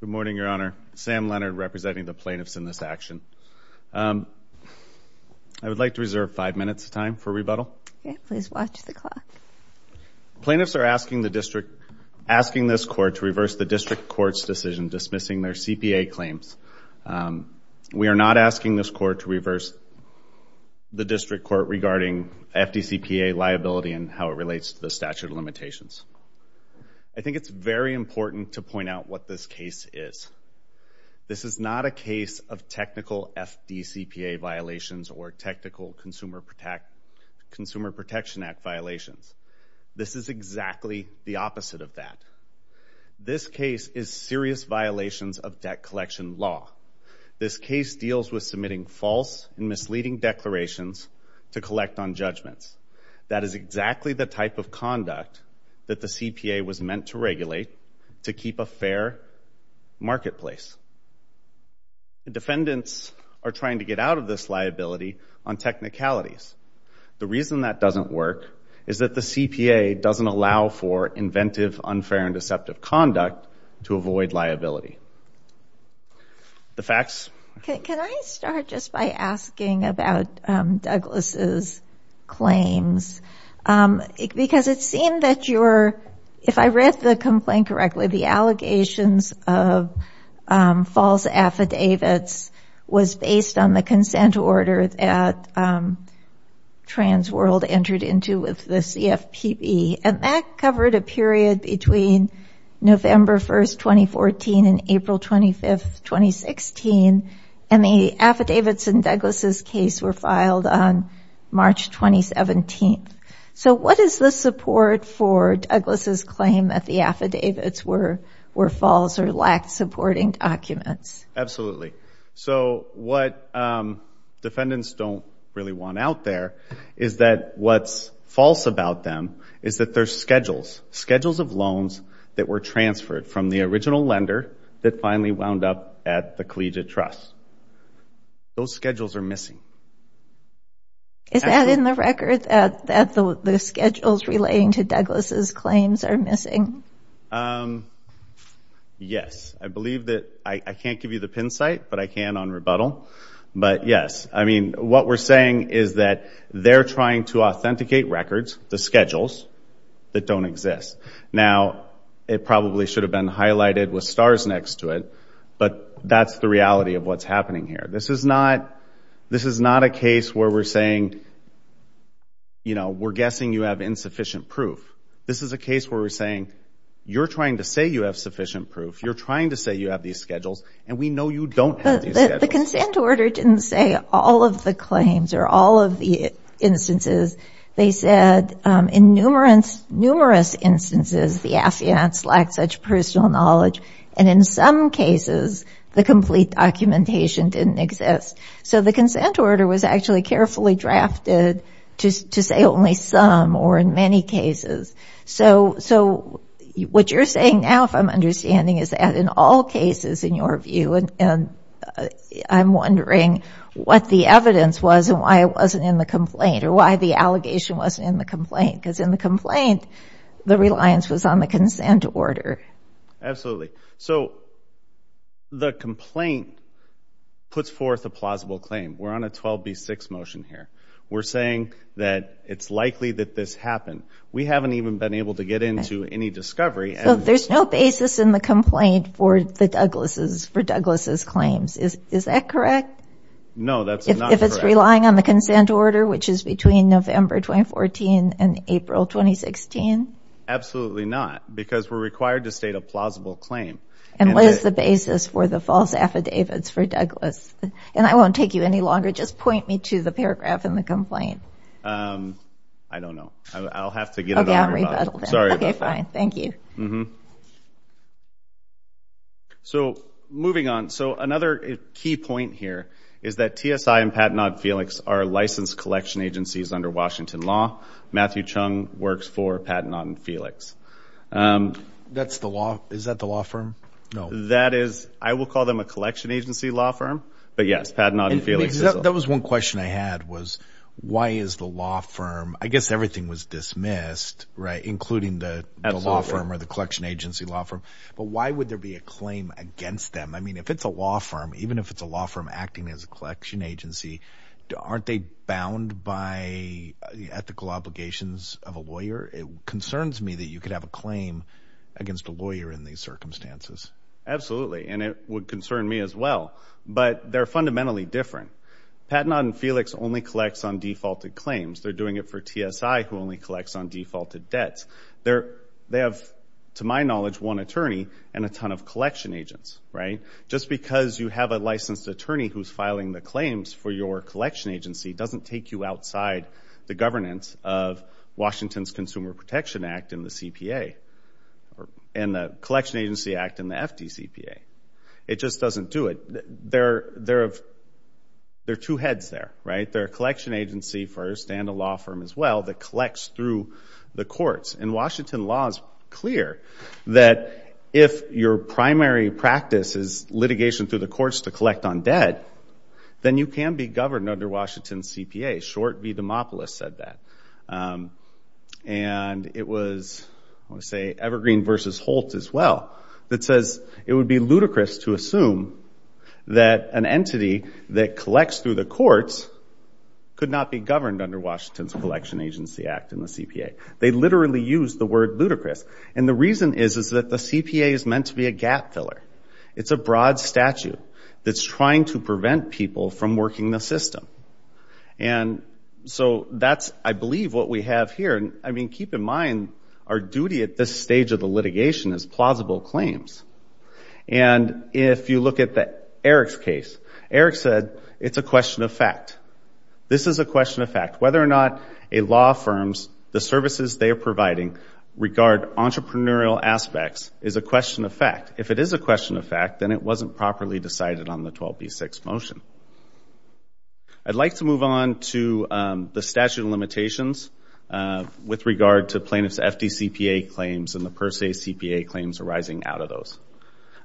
Good morning, Your Honor. Sam Leonard representing the plaintiffs in this action. I would like to reserve five minutes of time for rebuttal. Please watch the clock. Plaintiffs are asking this Court to reverse the District Court's decision dismissing their CPA claims. We are not asking this Court to reverse the District Court regarding FDCPA liability and how it relates to the statute of limitations. I think it's very important to point out what this case is. This is not a case of technical FDCPA violations or technical Consumer Protection Act violations. This is exactly the opposite of that. This case is serious violations of debt collection law. This case deals with submitting false and misleading declarations to collect on judgments. That is exactly the type of conduct that the CPA was meant to regulate to keep a fair marketplace. The defendants are trying to get out of this liability on technicalities. The reason that doesn't work is that the CPA doesn't allow for inventive, unfair, and deceptive conduct to avoid liability. The facts. Can I start just by asking about Douglas' claims? Because it seemed that your, if I read the complaint correctly, the allegations of false affidavits was based on the consent order that TransWorld entered into with the CFPB. And that covered a period between November 1, 2014 and April 25, 2016. And the affidavits in Douglas' case were filed on March 2017. So what is the support for Douglas' claim that the affidavits were false or lacked supporting documents? Absolutely. So what defendants don't really want out there is that what's false about them is that their schedules, schedules of loans that were transferred from the original lender that finally wound up at the collegiate trust. Those schedules are missing. Is that in the record that the schedules relating to Douglas' claims are missing? Yes. I believe that, I can't give you the pin site, but I can on rebuttal. But yes, I mean, what we're saying is that they're trying to authenticate records, the schedules, that don't exist. Now, it probably should have been highlighted with stars next to it, but that's the reality of what's happening here. This is not a case where we're saying, you know, we're guessing you have insufficient proof. This is a case where we're saying, you're trying to say you have sufficient proof, you're trying to say you have these schedules, and we know you don't have these schedules. The consent order didn't say all of the claims or all of the instances. They said in numerous instances the affiance lacked such personal knowledge, and in some cases the complete documentation didn't exist. So the consent order was actually carefully drafted to say only some or in many cases. So what you're saying now, if I'm understanding, is that in all cases, in your view, and I'm wondering what the evidence was and why it wasn't in the complaint or why the allegation wasn't in the complaint, because in the complaint the reliance was on the consent order. Absolutely. So the complaint puts forth a plausible claim. We're on a 12B6 motion here. We're saying that it's likely that this happened. We haven't even been able to get into any discovery. So there's no basis in the complaint for Douglas' claims. Is that correct? No, that's not correct. If it's relying on the consent order, which is between November 2014 and April 2016? Absolutely not, because we're required to state a plausible claim. And what is the basis for the false affidavits for Douglas? And I won't take you any longer. Just point me to the paragraph in the complaint. I don't know. I'll have to get another rebuttal. Okay, fine. Thank you. So moving on. So another key point here is that TSI and Patten-Odd and Felix are licensed collection agencies under Washington law. Matthew Chung works for Patten-Odd and Felix. Is that the law firm? No. That was one question I had, was why is the law firm? I guess everything was dismissed, including the law firm or the collection agency law firm. But why would there be a claim against them? I mean, if it's a law firm, even if it's a law firm acting as a collection agency, aren't they bound by the ethical obligations of a lawyer? It concerns me that you could have a claim against a lawyer in these circumstances. Absolutely, and it would concern me as well. But they're fundamentally different. Patten-Odd and Felix only collects on defaulted claims. They're doing it for TSI, who only collects on defaulted debts. They have, to my knowledge, one attorney and a ton of collection agents, right? Just because you have a licensed attorney who's filing the claims for your collection agency doesn't take you outside the governance of Washington's Consumer Protection Act in the CPA and the Collection Agency Act in the FDCPA. It just doesn't do it. There are two heads there, right? There are a collection agency first and a law firm as well that collects through the courts. And Washington law is clear that if your primary practice is litigation through the courts to collect on debt, then you can be governed under Washington's CPA. Short v. Dimopoulos said that. And it was, I want to say, Evergreen v. Holt as well that says it would be ludicrous to assume that an entity that collects through the courts could not be governed under Washington's Collection Agency Act in the CPA. They literally used the word ludicrous. And the reason is that the CPA is meant to be a gap filler. It's a broad statute that's trying to prevent people from working the system. And so that's, I believe, what we have here. I mean, keep in mind our duty at this stage of the litigation is plausible claims. And if you look at Eric's case, Eric said it's a question of fact. This is a question of fact. Whether or not a law firm's services they are providing regard entrepreneurial aspects is a question of fact. If it is a question of fact, then it wasn't properly decided on the 12b-6 motion. I'd like to move on to the statute of limitations with regard to plaintiffs' FDCPA claims and the per se CPA claims arising out of those.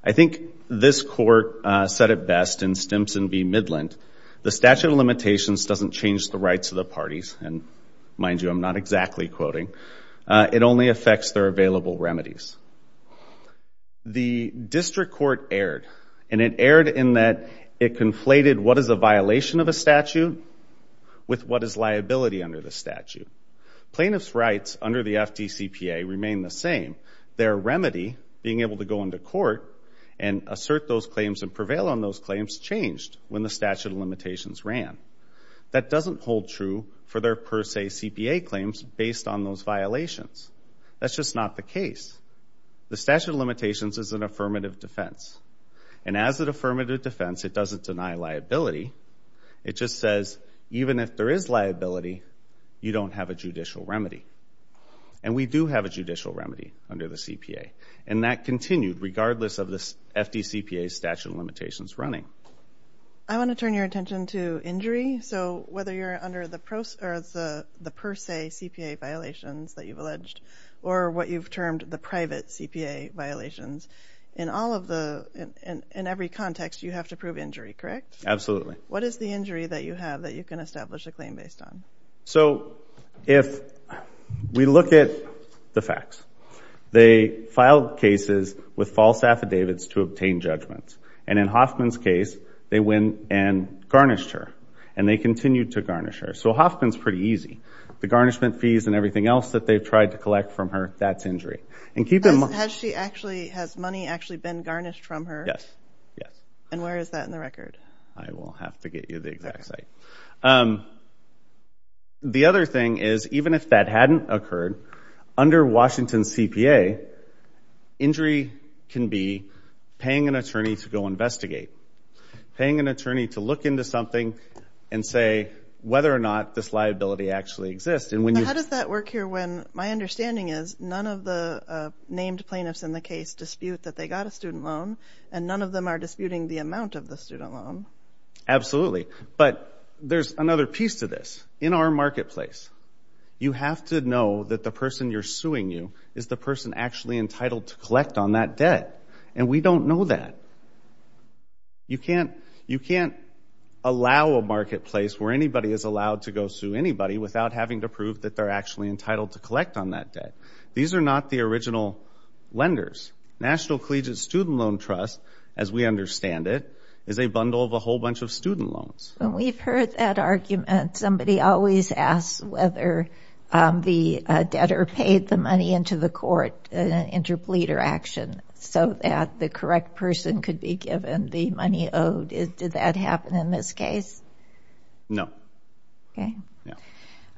I think this court said it best in Stimson v. Midland. The statute of limitations doesn't change the rights of the parties. And mind you, I'm not exactly quoting. It only affects their available remedies. The district court erred, and it erred in that it conflated what is a violation of a statute with what is liability under the statute. Plaintiffs' rights under the FDCPA remain the same. Their remedy, being able to go into court and assert those claims and prevail on those claims, changed when the statute of limitations ran. That doesn't hold true for their per se CPA claims based on those violations. That's just not the case. The statute of limitations is an affirmative defense. And as an affirmative defense, it doesn't deny liability. It just says even if there is liability, you don't have a judicial remedy. And we do have a judicial remedy under the CPA. And that continued regardless of the FDCPA's statute of limitations running. I want to turn your attention to injury. So whether you're under the per se CPA violations that you've alleged or what you've termed the private CPA violations, in every context you have to prove injury, correct? Absolutely. What is the injury that you have that you can establish a claim based on? So if we look at the facts, they filed cases with false affidavits to obtain judgments. And in Hoffman's case, they went and garnished her. And they continued to garnish her. So Hoffman's pretty easy. The garnishment fees and everything else that they've tried to collect from her, that's injury. Has money actually been garnished from her? Yes. And where is that in the record? I will have to get you the exact site. The other thing is even if that hadn't occurred, under Washington's CPA, injury can be paying an attorney to go investigate, paying an attorney to look into something and say whether or not this liability actually exists. How does that work here when my understanding is none of the named plaintiffs in the case dispute that they got a student loan and none of them are disputing the amount of the student loan? Absolutely. But there's another piece to this. In our marketplace, you have to know that the person you're suing you is the person actually entitled to collect on that debt. And we don't know that. You can't allow a marketplace where anybody is allowed to go sue anybody without having to prove that they're actually entitled to collect on that debt. These are not the original lenders. National Collegiate Student Loan Trust, as we understand it, is a bundle of a whole bunch of student loans. When we've heard that argument, somebody always asks whether the debtor paid the money into the court in an interpleader action so that the correct person could be given the money owed. Did that happen in this case? No. Okay.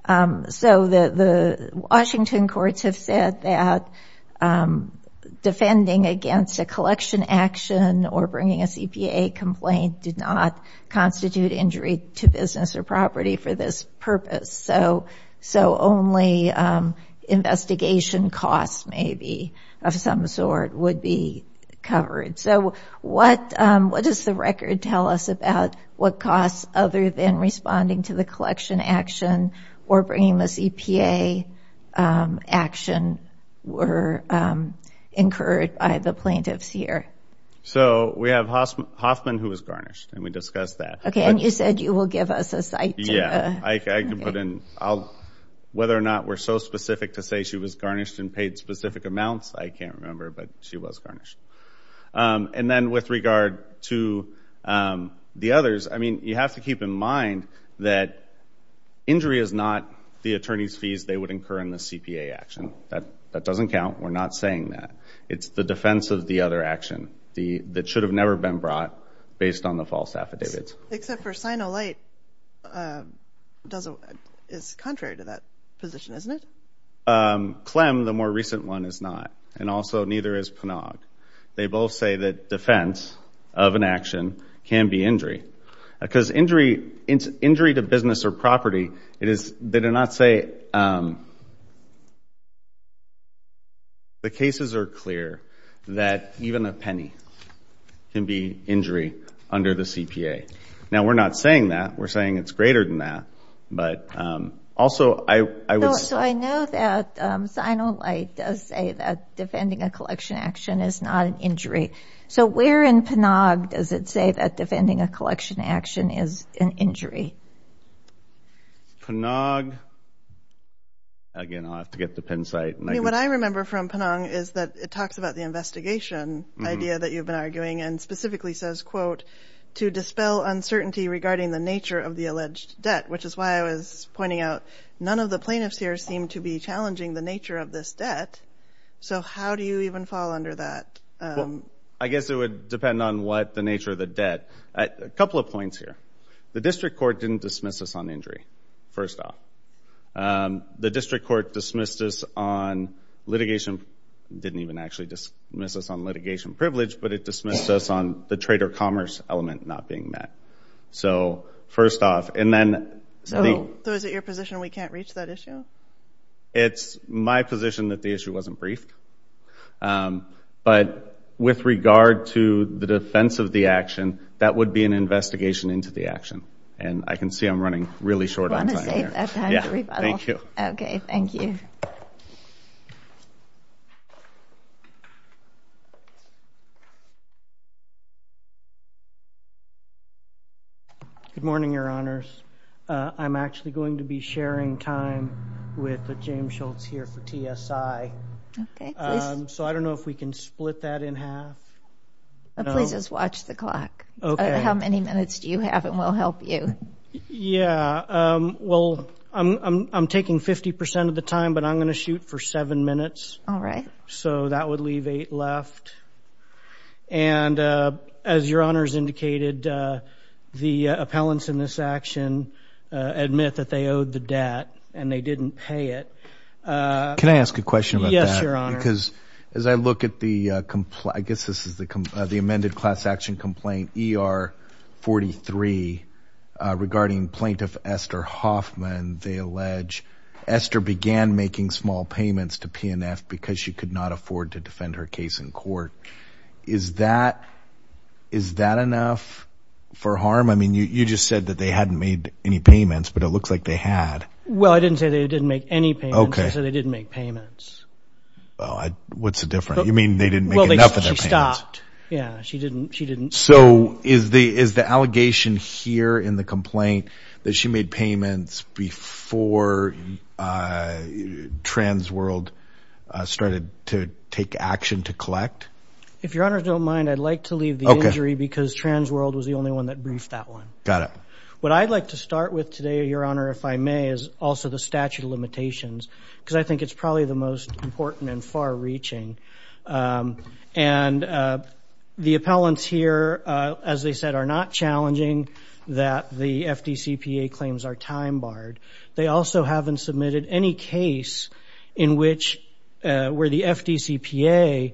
No. So the Washington courts have said that defending against a collection action or bringing a CPA complaint did not constitute injury to business or property for this purpose. So only investigation costs maybe of some sort would be covered. So what does the record tell us about what costs other than responding to the collection action or bringing the CPA action were incurred by the plaintiffs here? So we have Hoffman, who was garnished, and we discussed that. Okay. And you said you will give us a site. Yeah. I can put in whether or not we're so specific to say she was garnished and paid specific amounts. I can't remember, but she was garnished. And then with regard to the others, I mean, you have to keep in mind that injury is not the attorney's fees they would incur in the CPA action. That doesn't count. We're not saying that. It's the defense of the other action that should have never been brought based on the false affidavits. Except for Sinolite is contrary to that position, isn't it? Clem, the more recent one, is not. And also neither is Panag. They both say that defense of an action can be injury. Because injury to business or property, they do not say the cases are clear that even a penny can be injury under the CPA. Now, we're not saying that. We're saying it's greater than that. But also I would say. So I know that Sinolite does say that defending a collection action is not an injury. So where in Panag does it say that defending a collection action is an injury? Panag. Again, I'll have to get the Penn site. I mean, what I remember from Panag is that it talks about the investigation idea that you've been arguing and specifically says, quote, to dispel uncertainty regarding the nature of the alleged debt, which is why I was pointing out none of the plaintiffs here seem to be challenging the nature of this debt. So how do you even fall under that? Well, I guess it would depend on what the nature of the debt. A couple of points here. The district court didn't dismiss us on injury, first off. The district court dismissed us on litigation. It didn't even actually dismiss us on litigation privilege, but it dismissed us on the trade or commerce element not being met. So first off. So is it your position we can't reach that issue? It's my position that the issue wasn't briefed. But with regard to the defense of the action, that would be an investigation into the action. And I can see I'm running really short on time here. Thank you. Okay, thank you. Good morning, Your Honors. I'm actually going to be sharing time with James Schultz here for TSI. So I don't know if we can split that in half. Please just watch the clock. How many minutes do you have and we'll help you. Yeah. Well, I'm taking 50 percent of the time, but I'm going to shoot for seven minutes. All right. So that would leave eight left. And as Your Honors indicated, the appellants in this action admit that they owed the debt and they didn't pay it. Can I ask a question about that? Yes, Your Honor. Because as I look at the, I guess this is the amended class action complaint, ER-43, regarding plaintiff Esther Hoffman, they allege Esther began making small payments to PNF because she could not afford to defend her case in court. Is that enough for harm? I mean, you just said that they hadn't made any payments, but it looks like they had. Well, I didn't say they didn't make any payments. Okay. I said they didn't make payments. Well, what's the difference? You mean they didn't make enough of their payments? Well, she stopped. Yeah, she didn't. So is the allegation here in the complaint that she made payments before Transworld started to take action to collect? If Your Honors don't mind, I'd like to leave the injury because Transworld was the only one that briefed that one. Got it. What I'd like to start with today, Your Honor, if I may, is also the statute of limitations, because I think it's probably the most important and far-reaching. And the appellants here, as they said, are not challenging that the FDCPA claims are time-barred. They also haven't submitted any case where the FDCPA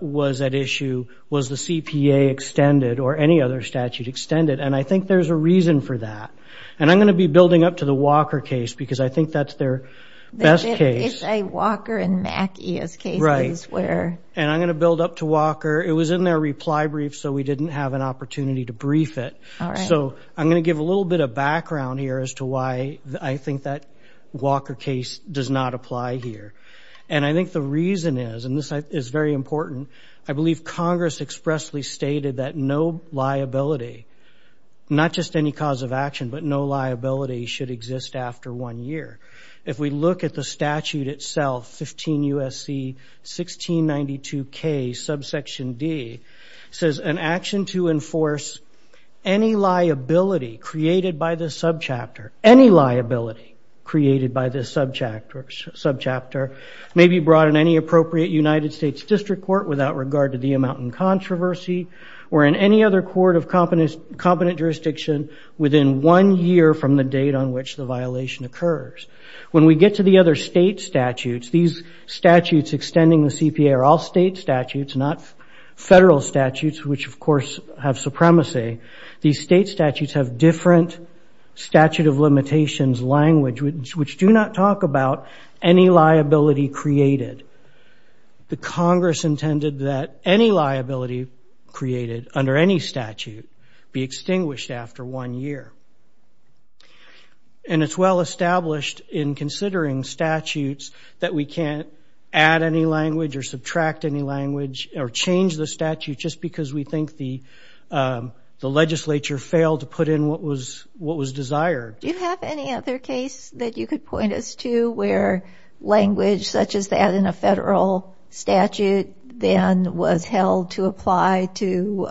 was at issue was the CPA extended or any other statute extended, and I think there's a reason for that. And I'm going to be building up to the Walker case because I think that's their best case. It's a Walker and Mackey as cases. Right. And I'm going to build up to Walker. It was in their reply brief, so we didn't have an opportunity to brief it. All right. So I'm going to give a little bit of background here as to why I think that Walker case does not apply here. And I think the reason is, and this is very important, I believe Congress expressly stated that no liability, not just any cause of action, but no liability should exist after one year. If we look at the statute itself, 15 U.S.C. 1692K subsection D, it says an action to enforce any liability created by this subchapter, any liability created by this subchapter, may be brought in any appropriate United States district court without regard to the amount in controversy or in any other court of competent jurisdiction within one year from the date on which the violation occurs. When we get to the other state statutes, these statutes extending the CPA are all state statutes, not federal statutes, which, of course, have supremacy. These state statutes have different statute of limitations language, which do not talk about any liability created. The Congress intended that any liability created under any statute be extinguished after one year. And it's well established in considering statutes that we can't add any language or subtract any language or change the statute just because we think the legislature failed to put in what was desired. Do you have any other case that you could point us to where language such as that in a federal statute then was held to apply to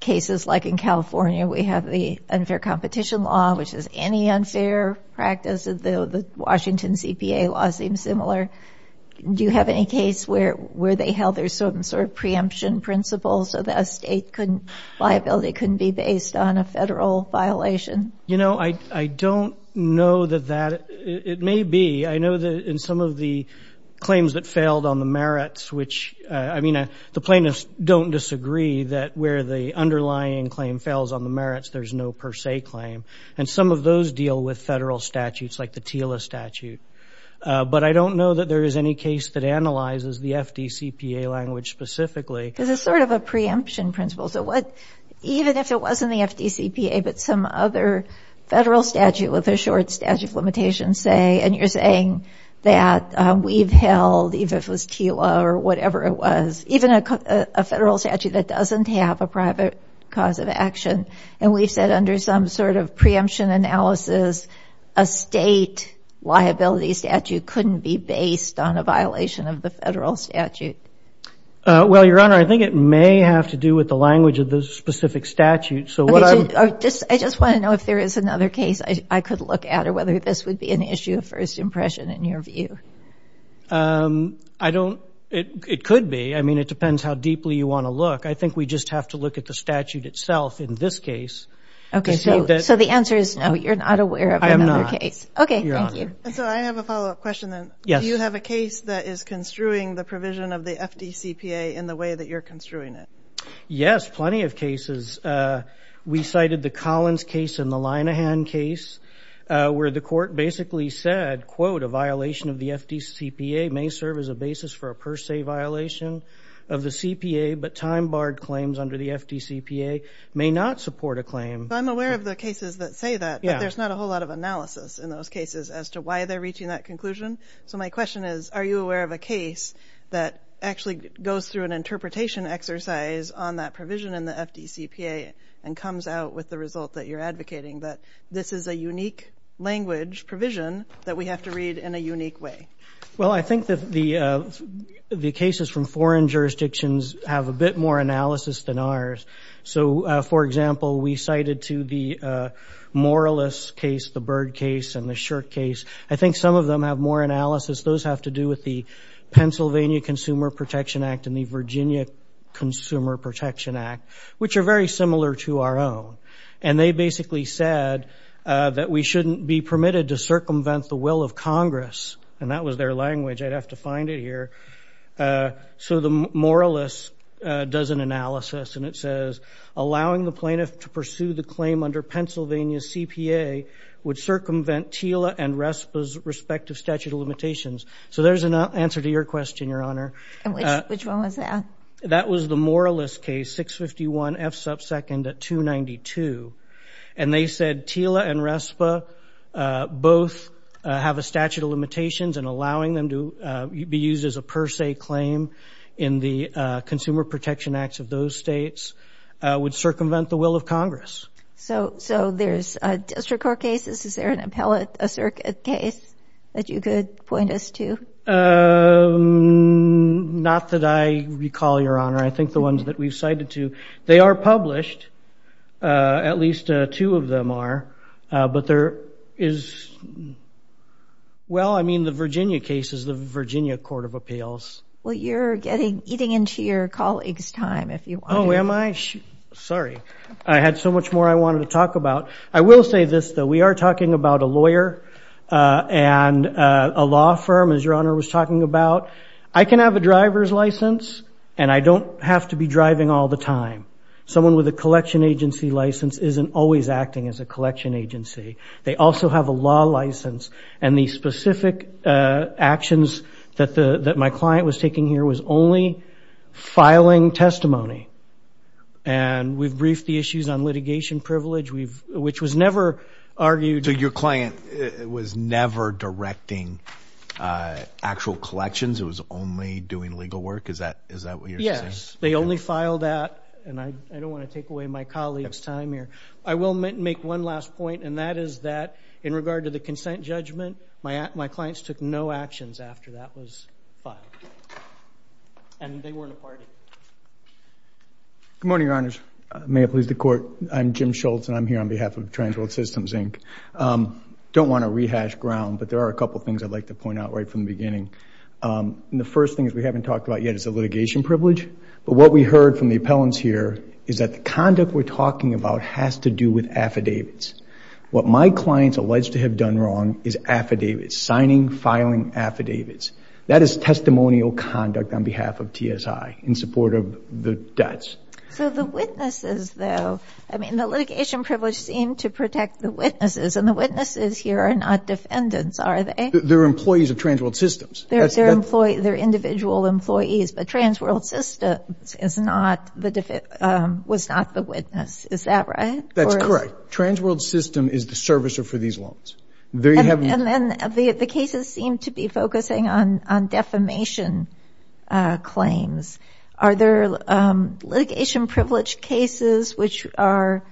cases like in California? We have the unfair competition law, which is any unfair practice. The Washington CPA law seems similar. Do you have any case where they held there's some sort of preemption principle so that a state liability couldn't be based on a federal violation? You know, I don't know that that – it may be. I know that in some of the claims that failed on the merits, which – I mean, the plaintiffs don't disagree that where the underlying claim fails on the merits, there's no per se claim. And some of those deal with federal statutes like the TILA statute. But I don't know that there is any case that analyzes the FDCPA language specifically. Because it's sort of a preemption principle. So what – even if it wasn't the FDCPA, but some other federal statute with a short statute limitation, say, and you're saying that we've held, even if it was TILA or whatever it was, even a federal statute that doesn't have a private cause of action, and we've said under some sort of preemption analysis, a state liability statute couldn't be based on a violation of the federal statute. Well, Your Honor, I think it may have to do with the language of the specific statute. So what I'm – I just want to know if there is another case I could look at or whether this would be an issue of first impression in your view. I don't – it could be. I mean, it depends how deeply you want to look. I think we just have to look at the statute itself in this case. Okay, so the answer is no, you're not aware of another case. I am not. Okay, thank you. And so I have a follow-up question then. Yes. Do you have a case that is construing the provision of the FDCPA in the way that you're construing it? Yes, plenty of cases. We cited the Collins case and the Linehan case where the court basically said, quote, a violation of the FDCPA may serve as a basis for a per se violation of the CPA, but time-barred claims under the FDCPA may not support a claim. I'm aware of the cases that say that, but there's not a whole lot of analysis in those cases as to why they're reaching that conclusion. So my question is, are you aware of a case that actually goes through an interpretation exercise on that provision in the FDCPA and comes out with the result that you're advocating, that this is a unique language provision that we have to read in a unique way? Well, I think that the cases from foreign jurisdictions have a bit more analysis than ours. So, for example, we cited to the Morales case, the Byrd case, and the Shirk case. I think some of them have more analysis. Those have to do with the Pennsylvania Consumer Protection Act and the Virginia Consumer Protection Act, which are very similar to our own. And they basically said that we shouldn't be permitted to circumvent the will of Congress, and that was their language. I'd have to find it here. So the Morales does an analysis, and it says, allowing the plaintiff to pursue the claim under Pennsylvania's CPA would circumvent TILA and RESPA's respective statute of limitations. So there's an answer to your question, Your Honor. Which one was that? That was the Morales case, 651 F sub 2nd at 292. And they said TILA and RESPA both have a statute of limitations, and allowing them to be used as a per se claim in the Consumer Protection Act of those states would circumvent the will of Congress. So there's district court cases. Is there an appellate case that you could point us to? Not that I recall, Your Honor. I think the ones that we've cited to. They are published. At least two of them are. But there is, well, I mean, the Virginia case is the Virginia Court of Appeals. Well, you're eating into your colleague's time, if you want to. Oh, am I? Sorry. I had so much more I wanted to talk about. I will say this, though. We are talking about a lawyer and a law firm, as Your Honor was talking about. I can have a driver's license, and I don't have to be driving all the time. Someone with a collection agency license isn't always acting as a collection agency. They also have a law license, and the specific actions that my client was taking here was only filing testimony. And we've briefed the issues on litigation privilege, which was never argued. So your client was never directing actual collections? It was only doing legal work? Is that what you're saying? Yes. They only filed that, and I don't want to take away my colleague's time here. I will make one last point, and that is that in regard to the consent judgment, my clients took no actions after that was filed, and they weren't a party. Good morning, Your Honors. May it please the Court. I'm Jim Schultz, and I'm here on behalf of Transworld Systems, Inc. I don't want to rehash ground, but there are a couple things I'd like to point out right from the beginning. The first thing is we haven't talked about yet is the litigation privilege, but what we heard from the appellants here is that the conduct we're talking about has to do with affidavits. What my clients allege to have done wrong is affidavits, signing, filing affidavits. That is testimonial conduct on behalf of TSI in support of the debts. So the witnesses, though, I mean, the litigation privilege seemed to protect the witnesses, and the witnesses here are not defendants, are they? They're employees of Transworld Systems. They're individual employees, but Transworld Systems was not the witness. Is that right? That's correct. Transworld Systems is the servicer for these loans. And then the cases seem to be focusing on defamation claims. Are there litigation privilege cases which are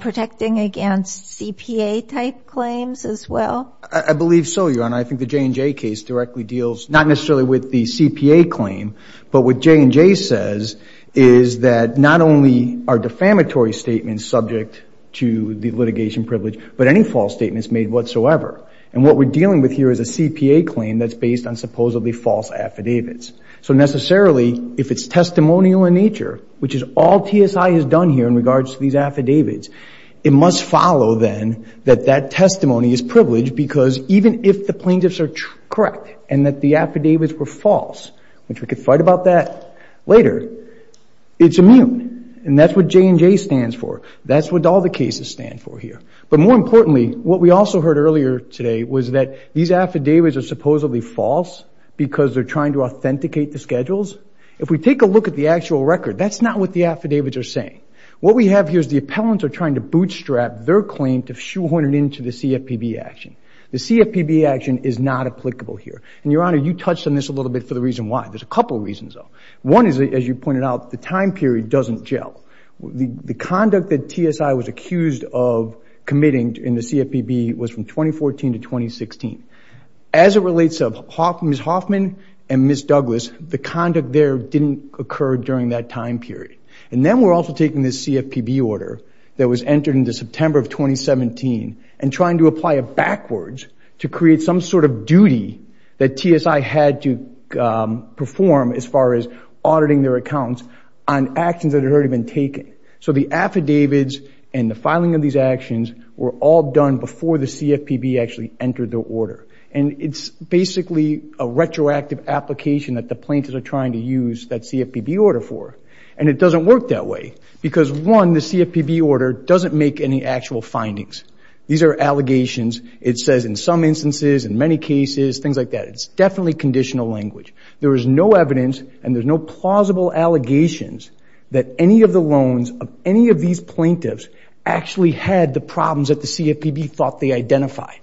protecting against CPA-type claims as well? I believe so, Your Honor. I think the J&J case directly deals not necessarily with the CPA claim, but what J&J says is that not only are defamatory statements subject to the litigation privilege, but any false statements made whatsoever. And what we're dealing with here is a CPA claim that's based on supposedly false affidavits. So necessarily, if it's testimonial in nature, which is all TSI has done here in regards to these affidavits, it must follow then that that testimony is privileged because even if the plaintiffs are correct and that the affidavits were false, which we could fight about that later, it's immune. And that's what J&J stands for. That's what all the cases stand for here. But more importantly, what we also heard earlier today was that these affidavits are supposedly false because they're trying to authenticate the schedules. If we take a look at the actual record, that's not what the affidavits are saying. What we have here is the appellants are trying to bootstrap their claim to shoehorn it into the CFPB action. The CFPB action is not applicable here. And, Your Honor, you touched on this a little bit for the reason why. There's a couple of reasons, though. One is, as you pointed out, the time period doesn't gel. The conduct that TSI was accused of committing in the CFPB was from 2014 to 2016. As it relates to Ms. Hoffman and Ms. Douglas, the conduct there didn't occur during that time period. And then we're also taking this CFPB order that was entered into September of 2017 and trying to apply it backwards to create some sort of duty that TSI had to perform as far as auditing their accounts on actions that had already been taken. So the affidavits and the filing of these actions were all done before the CFPB actually entered the order. And it's basically a retroactive application that the plaintiffs are trying to use that CFPB order for. And it doesn't work that way because, one, the CFPB order doesn't make any actual findings. These are allegations. It says in some instances, in many cases, things like that. It's definitely conditional language. There is no evidence and there's no plausible allegations that any of the loans of any of these plaintiffs actually had the problems that the CFPB thought they identified.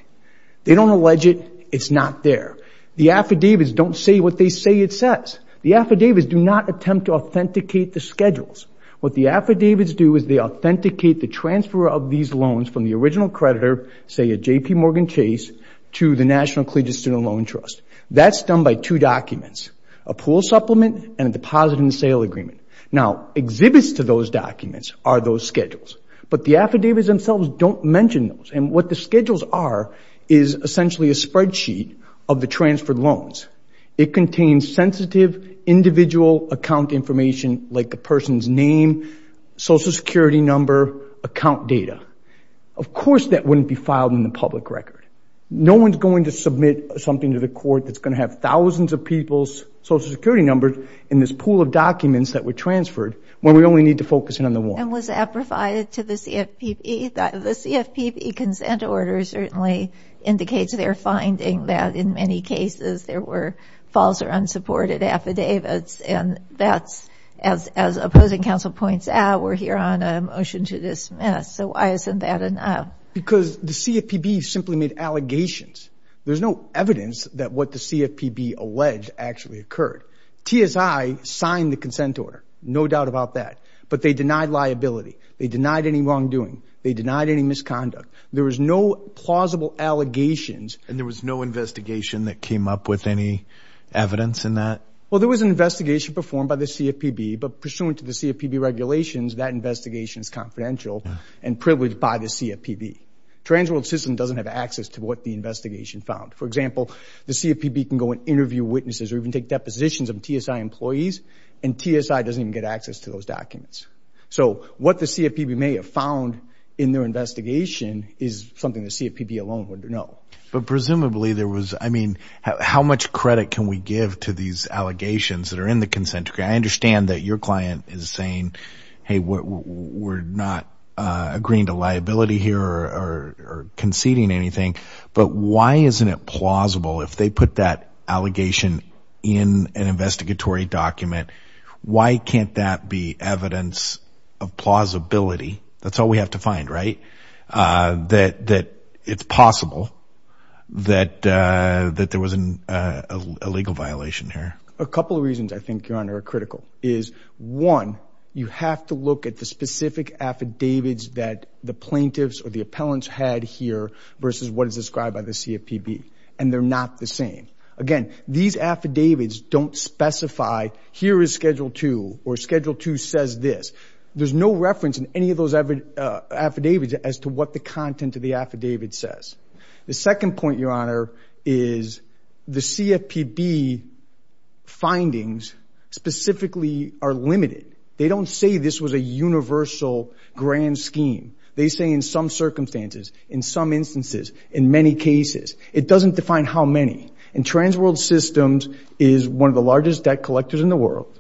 They don't allege it. It's not there. The affidavits don't say what they say it says. The affidavits do not attempt to authenticate the schedules. What the affidavits do is they authenticate the transfer of these loans from the original creditor, say a J.P. Morgan Chase, to the National Collegiate Student Loan Trust. That's done by two documents, a pool supplement and a deposit and sale agreement. Now exhibits to those documents are those schedules, but the affidavits themselves don't mention those. And what the schedules are is essentially a spreadsheet of the transferred loans. It contains sensitive individual account information like the person's name, Social Security number, account data. Of course that wouldn't be filed in the public record. No one's going to submit something to the court that's going to have thousands of people's Social Security numbers in this pool of documents that were transferred when we only need to focus in on the one. And was that provided to the CFPB? The CFPB consent order certainly indicates their finding that in many cases there were false or unsupported affidavits. And that's, as opposing counsel points out, we're here on a motion to dismiss. So why isn't that enough? Because the CFPB simply made allegations. There's no evidence that what the CFPB alleged actually occurred. TSI signed the consent order, no doubt about that, but they denied liability. They denied any wrongdoing. They denied any misconduct. There was no plausible allegations. And there was no investigation that came up with any evidence in that? Well, there was an investigation performed by the CFPB, but pursuant to the CFPB regulations, that investigation is confidential and privileged by the CFPB. Transworld System doesn't have access to what the investigation found. For example, the CFPB can go and interview witnesses or even take depositions of TSI employees, and TSI doesn't even get access to those documents. So what the CFPB may have found in their investigation is something the CFPB alone wouldn't know. But presumably there was, I mean, how much credit can we give to these allegations that are in the consent decree? I understand that your client is saying, hey, we're not agreeing to liability here or conceding anything, but why isn't it plausible if they put that allegation in an investigatory document, why can't that be evidence of plausibility? That's all we have to find, right? That it's possible that there was a legal violation here. A couple of reasons I think, Your Honor, are critical. One, you have to look at the specific affidavits that the plaintiffs or the appellants had here versus what is described by the CFPB, and they're not the same. Again, these affidavits don't specify here is Schedule 2 or Schedule 2 says this. There's no reference in any of those affidavits as to what the content of the affidavit says. The second point, Your Honor, is the CFPB findings specifically are limited. They don't say this was a universal grand scheme. They say in some circumstances, in some instances, in many cases. It doesn't define how many. And Transworld Systems is one of the largest debt collectors in the world.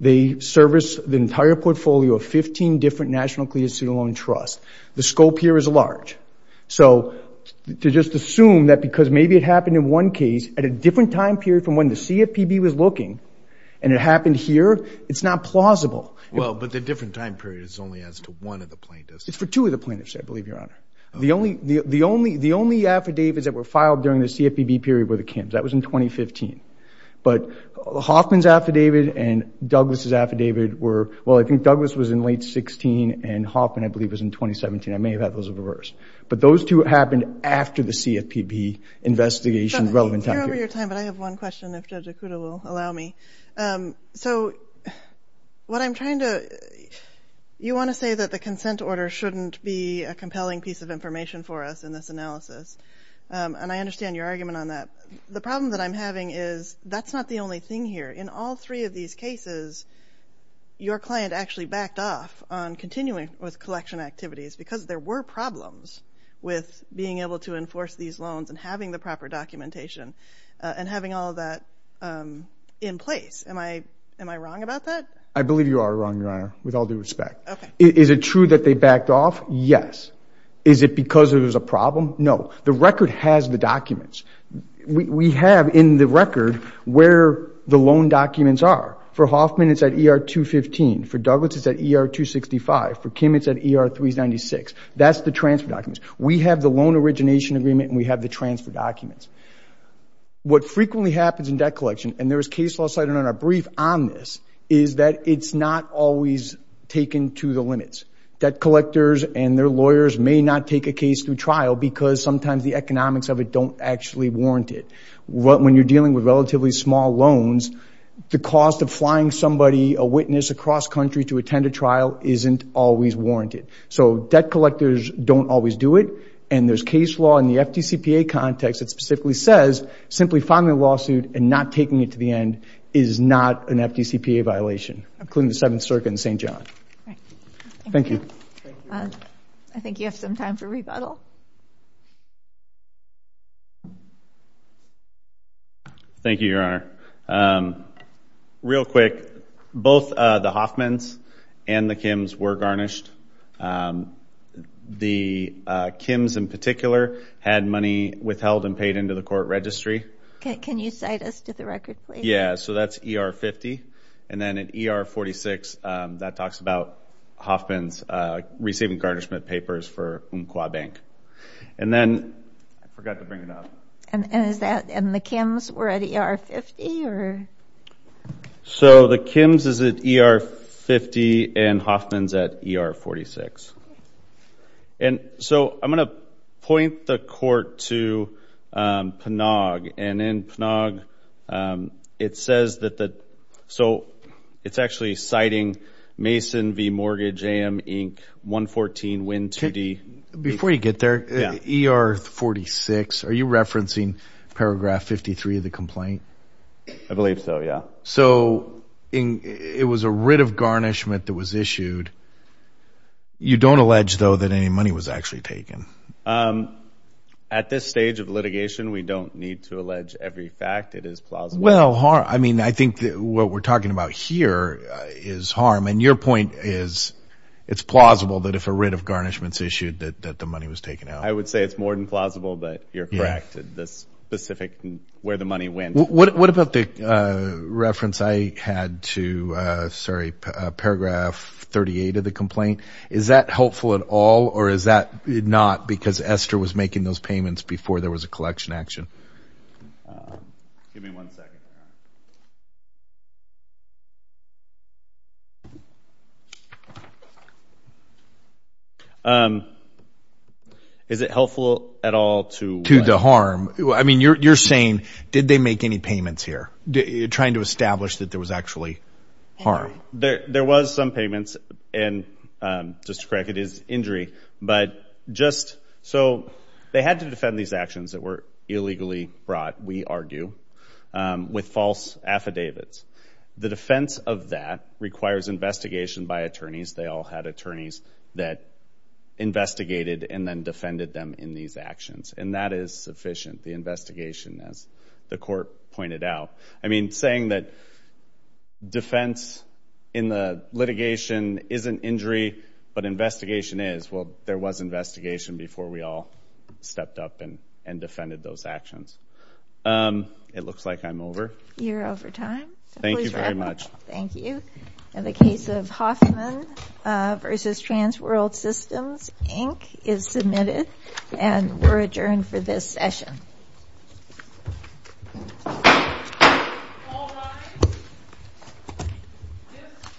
They service the entire portfolio of 15 different National Clearance Student Loan Trusts. The scope here is large. So to just assume that because maybe it happened in one case at a different time period from when the CFPB was looking and it happened here, it's not plausible. Well, but the different time period is only as to one of the plaintiffs. It's for two of the plaintiffs, I believe, Your Honor. The only affidavits that were filed during the CFPB period were the Kim's. That was in 2015. But Hoffman's affidavit and Douglas' affidavit were, well, I think Douglas was in late 16 and Hoffman, I believe, was in 2017. I may have had those reversed. But those two happened after the CFPB investigation relevant time period. You're over your time, but I have one question if Judge Okuda will allow me. So what I'm trying to – you want to say that the consent order shouldn't be a compelling piece of information for us in this analysis, and I understand your argument on that. The problem that I'm having is that's not the only thing here. In all three of these cases, your client actually backed off on continuing with collection activities because there were problems with being able to enforce these loans and having the proper documentation and having all of that in place. Am I wrong about that? I believe you are wrong, Your Honor, with all due respect. Okay. Is it true that they backed off? Yes. Is it because it was a problem? No. The record has the documents. We have in the record where the loan documents are. For Hoffman, it's at ER 215. For Douglas, it's at ER 265. For Kim, it's at ER 396. That's the transfer documents. We have the loan origination agreement, and we have the transfer documents. What frequently happens in debt collection, and there is case law cited in our brief on this, is that it's not always taken to the limits. Debt collectors and their lawyers may not take a case through trial because sometimes the economics of it don't actually warrant it. When you're dealing with relatively small loans, the cost of flying somebody, a witness across country, to attend a trial isn't always warranted. So debt collectors don't always do it, and there's case law in the FDCPA context that specifically says simply filing a lawsuit and not taking it to the end is not an FDCPA violation, including the Seventh Circuit and St. John. Thank you. I think you have some time for rebuttal. Thank you, Your Honor. Real quick, both the Hoffmans and the Kims were garnished. The Kims in particular had money withheld and paid into the court registry. Can you cite us to the record, please? Yeah, so that's ER 50. And then at ER 46, that talks about Hoffmans receiving garnishment papers for Umpqua Bank. And then I forgot to bring it up. And the Kims were at ER 50? So the Kims is at ER 50, and Hoffman's at ER 46. And so I'm going to point the court to PNAG. And in PNAG, it says that the ‑‑ so it's actually citing Mason v. Mortgage, A.M., Inc., 114, Wynn 2D. Before you get there, ER 46, are you referencing paragraph 53 of the complaint? I believe so, yeah. So it was a writ of garnishment that was issued. You don't allege, though, that any money was actually taken? At this stage of litigation, we don't need to allege every fact. It is plausible. Well, I mean, I think what we're talking about here is harm. And your point is it's plausible that if a writ of garnishment is issued, that the money was taken out. I would say it's more than plausible, but you're correct. The specific where the money went. What about the reference I had to, sorry, paragraph 38 of the complaint? Is that helpful at all, or is that not, because Esther was making those payments before there was a collection action? Give me one second. Is it helpful at all to what? To the harm. I mean, you're saying, did they make any payments here, trying to establish that there was actually harm? There was some payments, and just to correct, it is injury. So they had to defend these actions that were illegally brought, we argue, with false affidavits. The defense of that requires investigation by attorneys. They all had attorneys that investigated and then defended them in these actions. And that is sufficient, the investigation, as the court pointed out. I mean, saying that defense in the litigation isn't injury, but investigation is. Well, there was investigation before we all stepped up and defended those actions. It looks like I'm over. You're over time. Thank you very much. Thank you. And the case of Hoffman v. Transworld Systems, Inc. is submitted, and we're adjourned for this session. All rise. This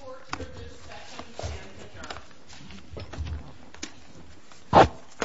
court for this session is adjourned.